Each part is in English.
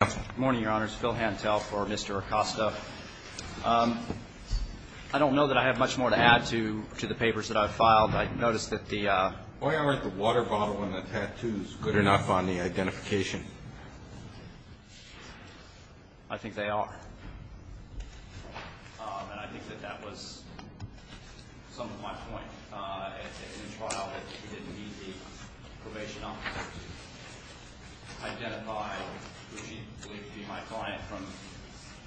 Good morning, your honors. Phil Hantel for Mr. Acosta. I don't know that I have much more to add to the papers that I've filed. I noticed that the Why aren't the water bottle and the tattoos good enough on the identification? I think they are. And I think that that was some of my point in the trial that he didn't need the probation officer to identify what he believed to be my client from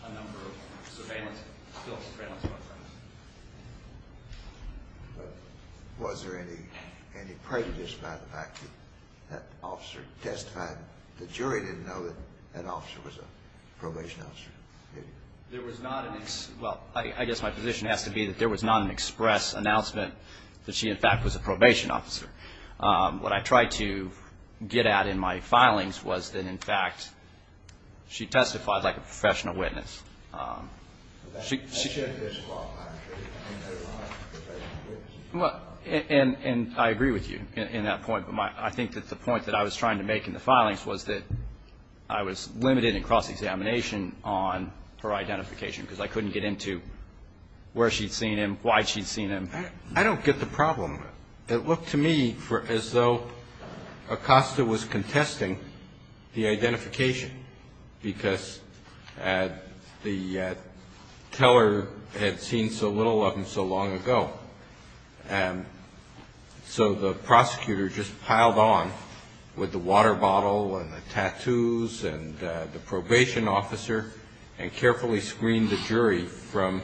a number of surveillance, Phil's surveillance work friends. Was there any prejudice by the fact that that officer testified? The jury didn't know that that officer was a probation officer. There was not. Well, I guess my position has to be that there was not an express announcement that she, in fact, was a probation officer. What I tried to get at in my filings was that, in fact, she testified like a professional witness. She said. And I agree with you in that point. I think that the point that I was trying to make in the filings was that I was limited in cross-examination on her identification because I couldn't get into where she'd seen him, why she'd seen him. I don't get the problem. It looked to me as though Acosta was contesting the identification because the teller had seen so little of him so long ago. So the prosecutor just piled on with the water bottle and the tattoos and the probation officer and carefully screened the jury from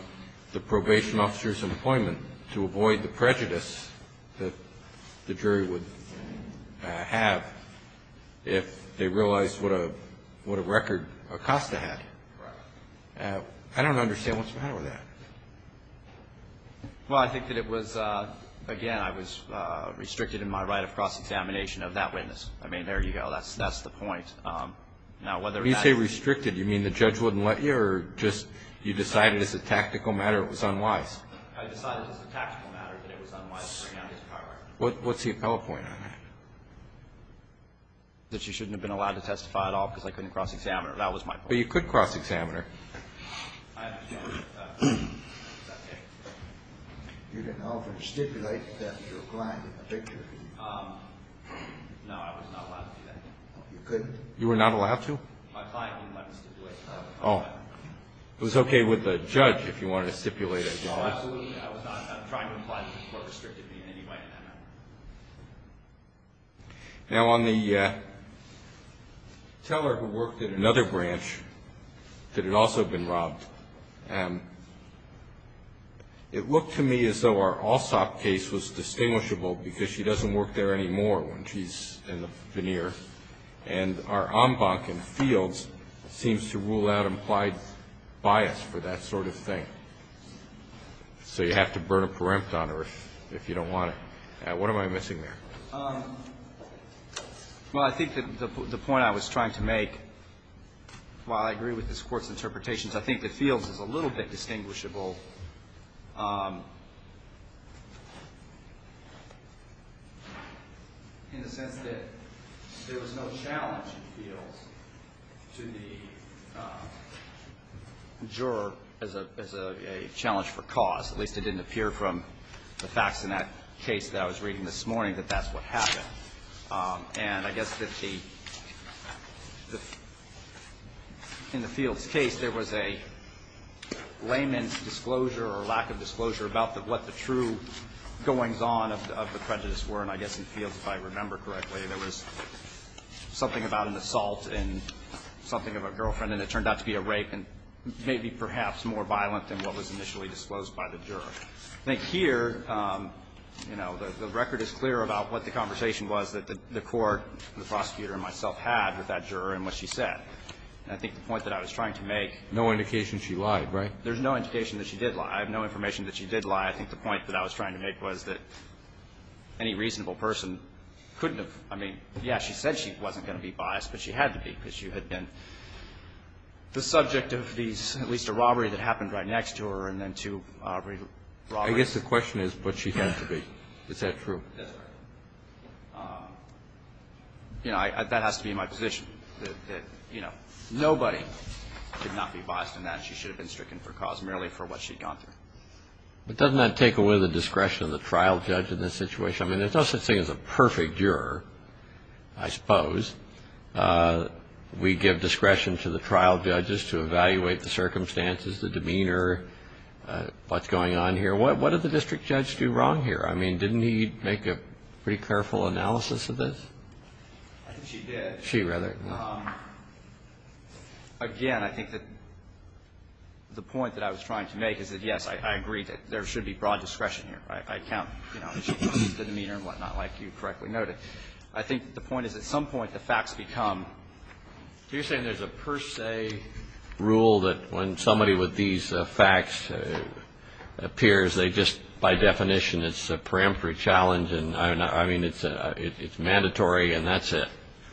the probation officer's employment to avoid the prejudice that the jury would have if they realized what a record Acosta had. I don't understand what's the matter with that. Well, I think that it was, again, I was restricted in my right of cross-examination of that witness. I mean, there you go. That's the point. Now, whether that's. When you say restricted, you mean the judge wouldn't let you or just you decided as a tactical matter it was unwise? I decided as a tactical matter that it was unwise to bring out his power. What's the appellate point on that? That she shouldn't have been allowed to testify at all because I couldn't cross-examine her. That was my point. But you could cross-examine her. You didn't offer to stipulate that to a client in the picture. No, I was not allowed to do that. You couldn't? You were not allowed to? My client didn't let me stipulate. Oh. It was okay with the judge if you wanted to stipulate it. No, absolutely not. I'm trying to imply that the court restricted me in any way in that matter. Now, on the teller who worked at another branch that had also been robbed, it looked to me as though our all-stop case was distinguishable because she doesn't work there anymore when she's in the veneer. And our en banc in fields seems to rule out implied bias for that sort of thing. So you have to burn a perempt on her if you don't want to. What am I missing there? Well, I think the point I was trying to make, while I agree with this Court's interpretations, I think that fields is a little bit distinguishable in the sense that there was no challenge in fields to the juror as a challenge for cause. At least it didn't appear from the facts in that case that I was reading this morning that that's what happened. And I guess that the – in the fields case, there was a layman's disclosure or lack of disclosure about what the true goings-on of the prejudice were. And I guess in fields, if I remember correctly, there was something about an assault and something of a girlfriend, and it turned out to be a rape and maybe perhaps more violent than what was initially disclosed by the juror. I think here, you know, the record is clear about what the conversation was that the court, the prosecutor and myself, had with that juror and what she said. And I think the point that I was trying to make – No indication she lied, right? There's no indication that she did lie. I have no information that she did lie. I think the point that I was trying to make was that any reasonable person couldn't have – I mean, yeah, she said she wasn't going to be biased, but she had to be, because she had been the subject of these – at least a robbery that happened right next to her and then two robberies. I guess the question is what she had to be. Is that true? That's correct. You know, that has to be my position, that, you know, nobody could not be biased in that. She should have been stricken for cause merely for what she'd gone through. But doesn't that take away the discretion of the trial judge in this situation? I mean, there's no such thing as a perfect juror, I suppose. We give discretion to the trial judges to evaluate the circumstances, the demeanor, what's going on here. What did the district judge do wrong here? I mean, didn't he make a pretty careful analysis of this? I think she did. She rather. Again, I think that the point that I was trying to make is that, yes, I agree that there should be broad discretion here. I count, you know, the demeanor and whatnot, like you correctly noted. I think the point is at some point the facts become – So you're saying there's a per se rule that when somebody with these facts appears, they just, by definition, it's a peremptory challenge and, I mean, it's mandatory and that's it?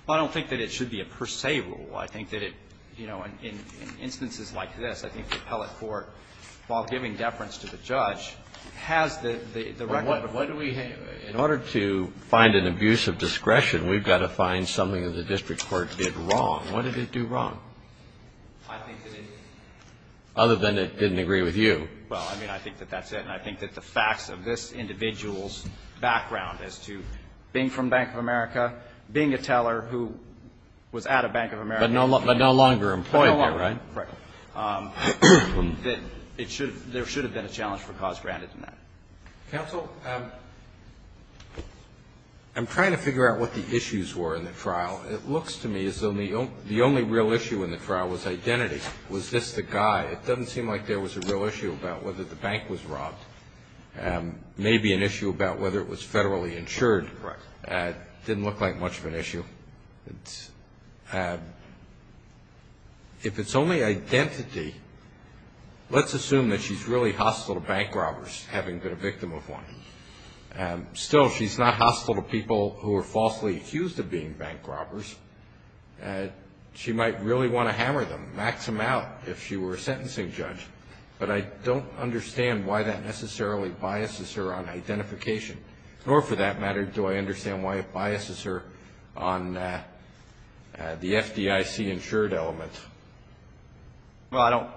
Well, I don't think that it should be a per se rule. I think that it, you know, in instances like this, I think the appellate court, while giving deference to the judge, has the record of – But what do we – in order to find an abuse of discretion, we've got to find something that the district court did wrong. What did it do wrong? I think that it – Other than it didn't agree with you. Well, I mean, I think that that's it. And I think that the facts of this individual's background as to being from Bank of America, being a teller who was at a Bank of America – But no longer employed there, right? No longer, correct. That there should have been a challenge for cause granted in that. Counsel, I'm trying to figure out what the issues were in the trial. It looks to me as though the only real issue in the trial was identity. Was this the guy? It doesn't seem like there was a real issue about whether the bank was robbed, maybe an issue about whether it was federally insured. Right. It didn't look like much of an issue. If it's only identity, let's assume that she's really hostile to bank robbers, having been a victim of one. Still, she's not hostile to people who are falsely accused of being bank robbers. She might really want to hammer them, max them out, if she were a sentencing judge. But I don't understand why that necessarily biases her on identification. Or, for that matter, do I understand why it biases her on the FDIC insured element? Well, I don't.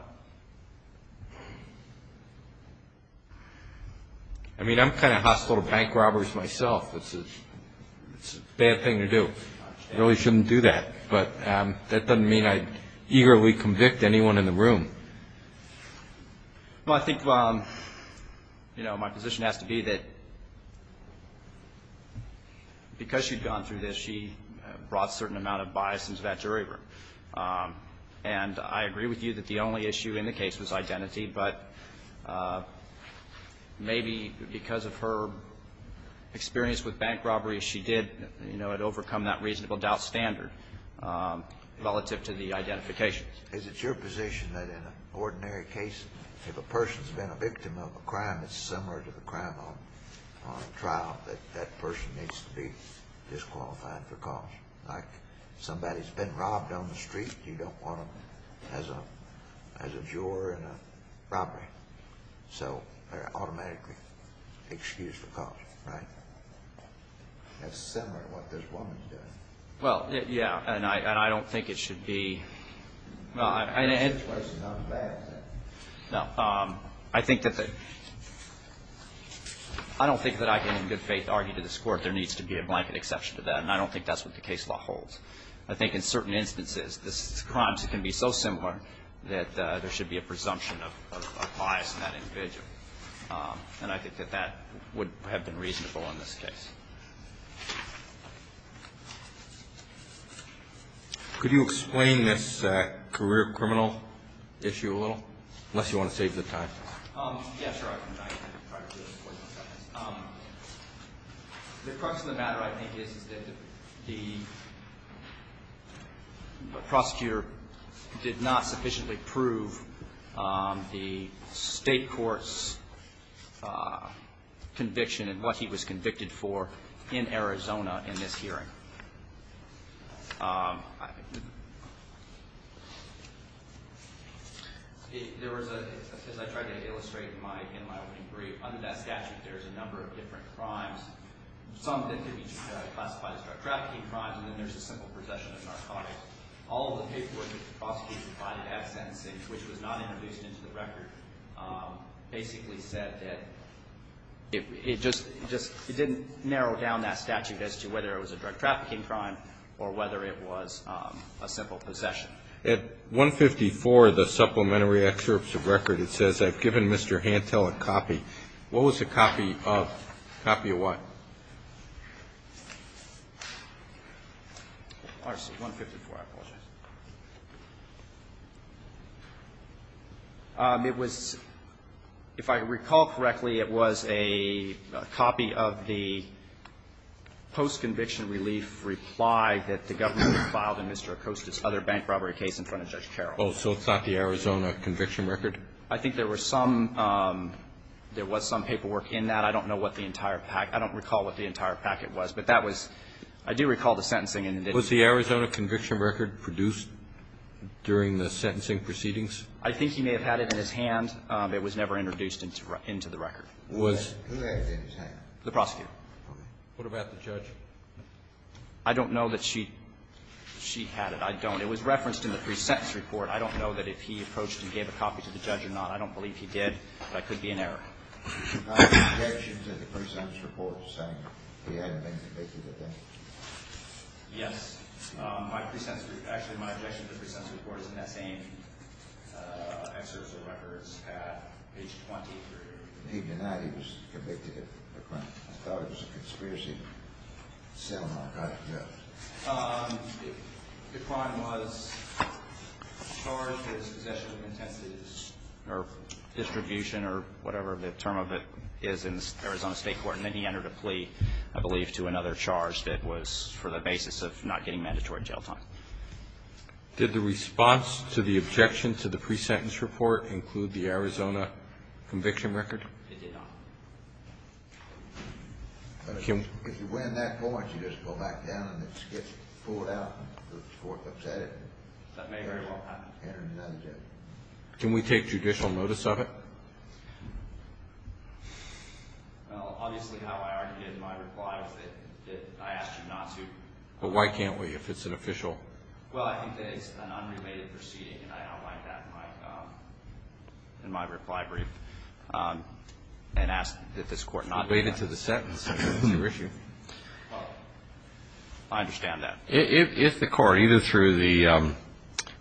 I mean, I'm kind of hostile to bank robbers myself. It's a bad thing to do. I really shouldn't do that. But that doesn't mean I'd eagerly convict anyone in the room. Well, I think, you know, my position has to be that because she'd gone through this, she brought a certain amount of bias into that jury room. And I agree with you that the only issue in the case was identity. But maybe because of her experience with bank robberies, she did, you know, had overcome that reasonable doubt standard relative to the identification. Is it your position that in an ordinary case, if a person's been a victim of a crime that's similar to the crime on trial, that that person needs to be disqualified for cause? Like, somebody's been robbed on the street. You don't want them as a juror in a robbery. So they're automatically excused for cause, right? That's similar to what this woman's doing. Well, yeah. And I don't think it should be. Well, I think that I don't think that I can in good faith argue to this court there needs to be a blanket exception to that. And I don't think that's what the case law holds. I think in certain instances, this crime can be so similar that there should be a presumption of bias in that individual. And I think that that would have been reasonable in this case. Could you explain this career criminal issue a little? Unless you want to save the time. Yeah, sure. The crux of the matter, I think, is that the prosecutor did not sufficiently prove the state court's conviction and what he was convicted for in Arizona in this hearing. As I tried to illustrate in my opening brief, under that statute, there's a number of different crimes, some that can be classified as drug trafficking crimes, and then there's the simple possession of narcotics. All of the paperwork that the prosecutor provided at sentencing, which was not introduced into the record, basically said that it just didn't narrow down that statute as to whether it was a drug trafficking crime or not. Whether it was a drug trafficking crime or whether it was a simple possession. At 154, the supplementary excerpts of record, it says, I've given Mr. Hantel a copy. What was a copy of? A copy of what? 154, I apologize. It was, if I recall correctly, it was a copy of the post-conviction relief reply that the government had filed in Mr. Acosta's other bank robbery case in front of Judge Carroll. Oh, so it's not the Arizona conviction record? I think there were some – there was some paperwork in that. I don't know what the entire – I don't recall what the entire packet was, but that was – I do recall the sentencing. Was the Arizona conviction record produced during the sentencing proceedings? I think he may have had it in his hand. It was never introduced into the record. Who had it in his hand? The prosecutor. What about the judge? I don't know that she had it. I don't. It was referenced in the pre-sentence report. I don't know that if he approached and gave a copy to the judge or not. I don't believe he did, but I could be in error. My objection to the pre-sentence report is saying he hadn't been convicted of anything. Yes. My pre-sentence – actually, my objection to the pre-sentence report is in that same excerpt of the records at page 23. He denied he was convicted of a crime. I thought it was a conspiracy to sell an archivist's job. The crime was charged as possession of intensities or distribution or whatever the term of it is in Arizona State Court, and then he entered a plea, I believe, to another charge that was for the basis of not getting mandatory jail time. Did the response to the objection to the pre-sentence report include the Arizona conviction record? It did not. If you win that court, you just go back down and it gets pulled out and the court upset it. That may very well happen. Can we take judicial notice of it? Well, obviously, how I argued in my reply was that I asked you not to. But why can't we if it's an official? Well, I think that it's an unrelated proceeding, and I outlined that in my reply brief. And asked that this court not do that. Related to the sentence. I understand that. If the court, either through the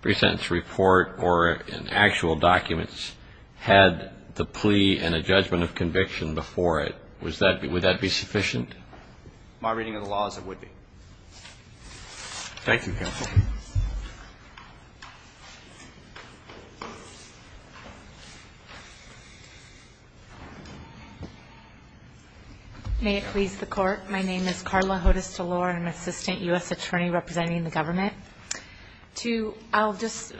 pre-sentence report or in actual documents, had the plea and a judgment of conviction before it, would that be sufficient? My reading of the law is it would be. Thank you, counsel. May it please the court. My name is Carla Hodes-Delore. I'm an assistant U.S. attorney representing the government. I'll just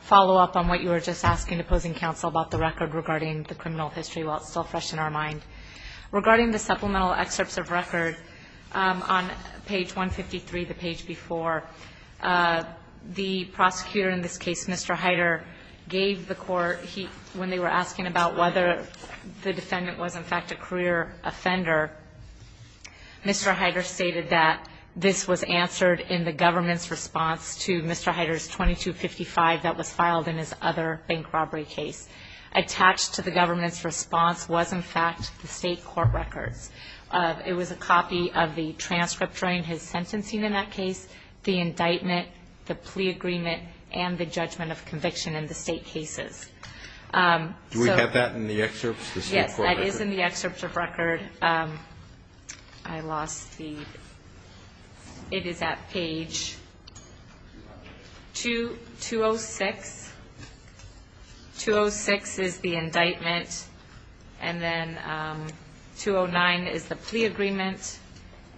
follow up on what you were just asking, opposing counsel, about the record regarding the criminal history while it's still fresh in our mind. Regarding the supplemental excerpts of record on page 153, the page before, the prosecutor in this case, Mr. Heider, gave the court, when they were asking about whether the defendant was, in fact, a career offender, Mr. Heider stated that this was answered in the government's response to Mr. Heider's 2255 that was filed in his other bank robbery case. Attached to the government's response was, in fact, the state court records. It was a copy of the transcript during his sentencing in that case, the indictment, the plea agreement, and the judgment of conviction in the state cases. Do we have that in the excerpts? Yes, that is in the excerpts of record. I lost the – it is at page 206. 206 is the indictment, and then 209 is the plea agreement,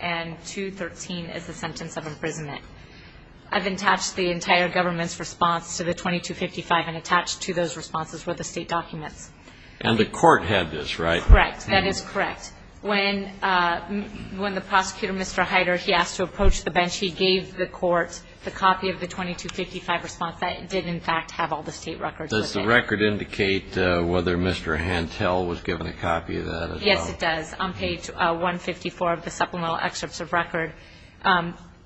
and 213 is the sentence of imprisonment. I've attached the entire government's response to the 2255 and attached to those responses were the state documents. And the court had this, right? Correct. That is correct. When the prosecutor, Mr. Heider, he asked to approach the bench, he gave the court the copy of the 2255 response that did, in fact, have all the state records. Does the record indicate whether Mr. Hantel was given a copy of that? Yes, it does. On page 154 of the supplemental excerpts of record,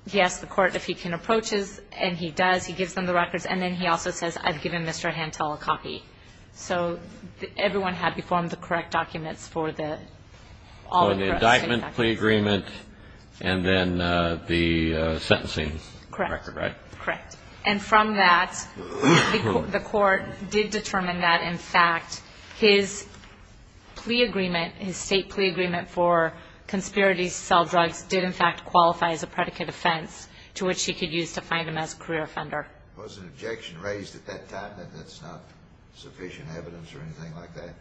he asked the court if he can approach us, and he does. He gives them the records, and then he also says, I've given Mr. Hantel a copy. So everyone had before them the correct documents for the all the rest. So the indictment, plea agreement, and then the sentencing record, right? Correct. And from that, the court did determine that, in fact, his plea agreement, his state plea agreement for conspiracies to sell drugs did, in fact, qualify as a predicate offense to which he could use to find him as a career offender. Was an objection raised at that time that that's not sufficient evidence or anything like that?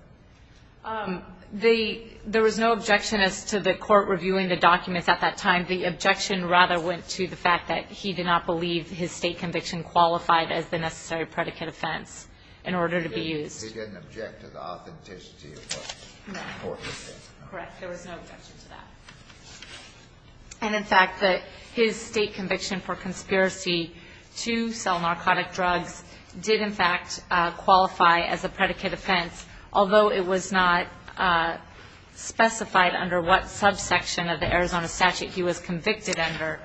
There was no objection as to the court reviewing the documents at that time. The objection rather went to the fact that he did not believe his state conviction qualified as the necessary predicate offense in order to be used. So he didn't object to the authenticity of the court decision? No. Correct. There was no objection to that. And, in fact, that his state conviction for conspiracy to sell narcotic drugs did, in fact, qualify as a predicate offense, although it was not specified under what subsection of the Arizona statute he was convicted under.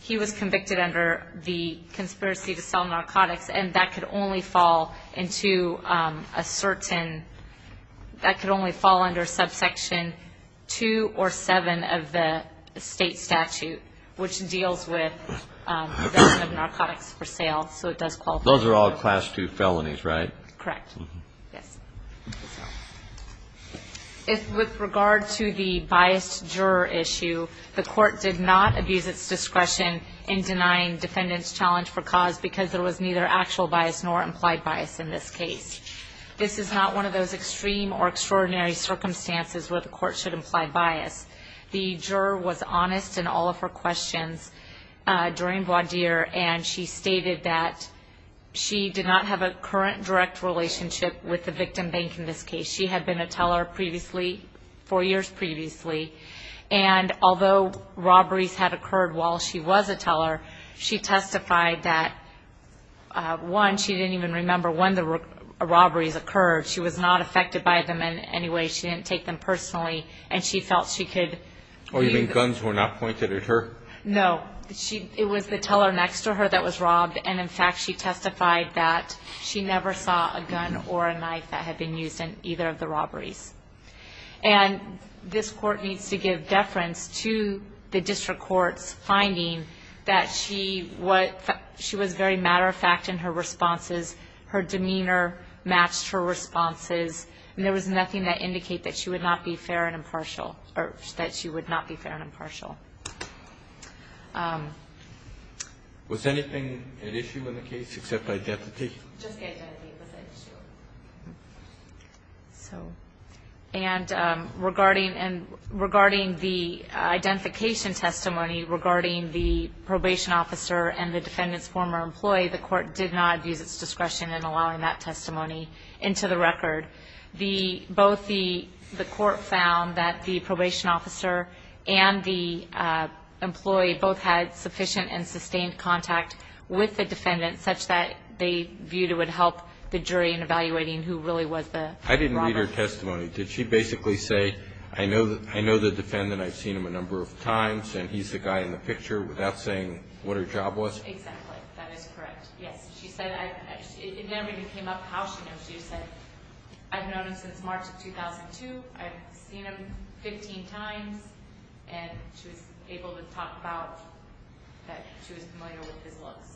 He was convicted under the conspiracy to sell narcotics, and that could only fall under subsection 2 or 7 of the state statute, which deals with possession of narcotics for sale. So it does qualify. Those are all Class II felonies, right? Correct. With regard to the biased juror issue, the court did not abuse its discretion in denying defendants' challenge for cause because there was neither actual bias nor implied bias in this case. This is not one of those extreme or extraordinary circumstances where the court should imply bias. The juror was honest in all of her questions during Boisdier, and she stated that she did not have a current direct relationship with the victim bank in this case. She had been a teller four years previously, and although robberies had occurred while she was a teller, she testified that, one, she didn't even remember when the robberies occurred. She was not affected by them in any way. She didn't take them personally, and she felt she could be. Oh, you mean guns were not pointed at her? No. It was the teller next to her that was robbed, and, in fact, she testified that she never saw a gun or a knife that had been used in either of the robberies. And this court needs to give deference to the district court's finding that she was very matter-of-fact in her responses. Her demeanor matched her responses, and there was nothing that indicated that she would not be fair and impartial, or that she would not be fair and impartial. Was anything at issue in the case except the identification? Just the identification was at issue. And regarding the identification testimony regarding the probation officer and the defendant's former employee, the court did not use its discretion in allowing that testimony into the record. Both the court found that the probation officer and the employee both had sufficient and sustained contact with the defendant such that they viewed it would help the jury in evaluating who really was the robber. I didn't read her testimony. Did she basically say, I know the defendant, I've seen him a number of times, and he's the guy in the picture, without saying what her job was? Exactly. That is correct. Yes. It never even came up how she knows you. She said, I've known him since March of 2002, I've seen him 15 times, and she was able to talk about that she was familiar with his looks.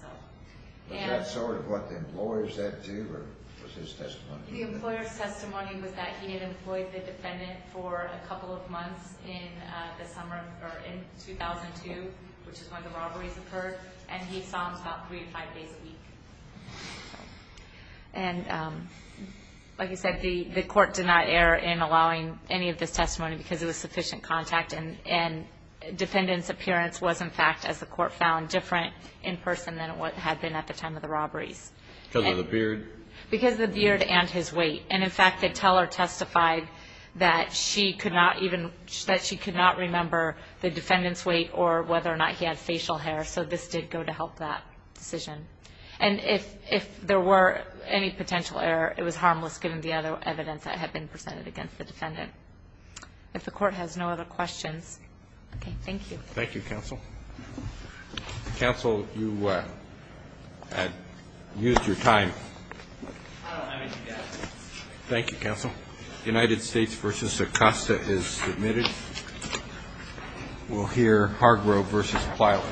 Was that sort of what the employer said to you, or was his testimony? The employer's testimony was that he had employed the defendant for a couple of months in 2002, which is when the robberies occurred, and he saw him about three to five days a week. Like you said, the court did not err in allowing any of this testimony because it was sufficient contact, and defendant's appearance was, in fact, as the court found, different in person than it had been at the time of the robberies. Because of the beard? Because of the beard and his weight. In fact, the teller testified that she could not remember the defendant's weight or whether or not he had facial hair, so this did go to help that decision. And if there were any potential error, it was harmless given the other evidence that had been presented against the defendant. If the court has no other questions. Okay. Thank you. Thank you, counsel. Counsel, you had used your time. Thank you, counsel. United States v. Acosta is submitted. We'll hear Hargrove v. Plyler. Thank you.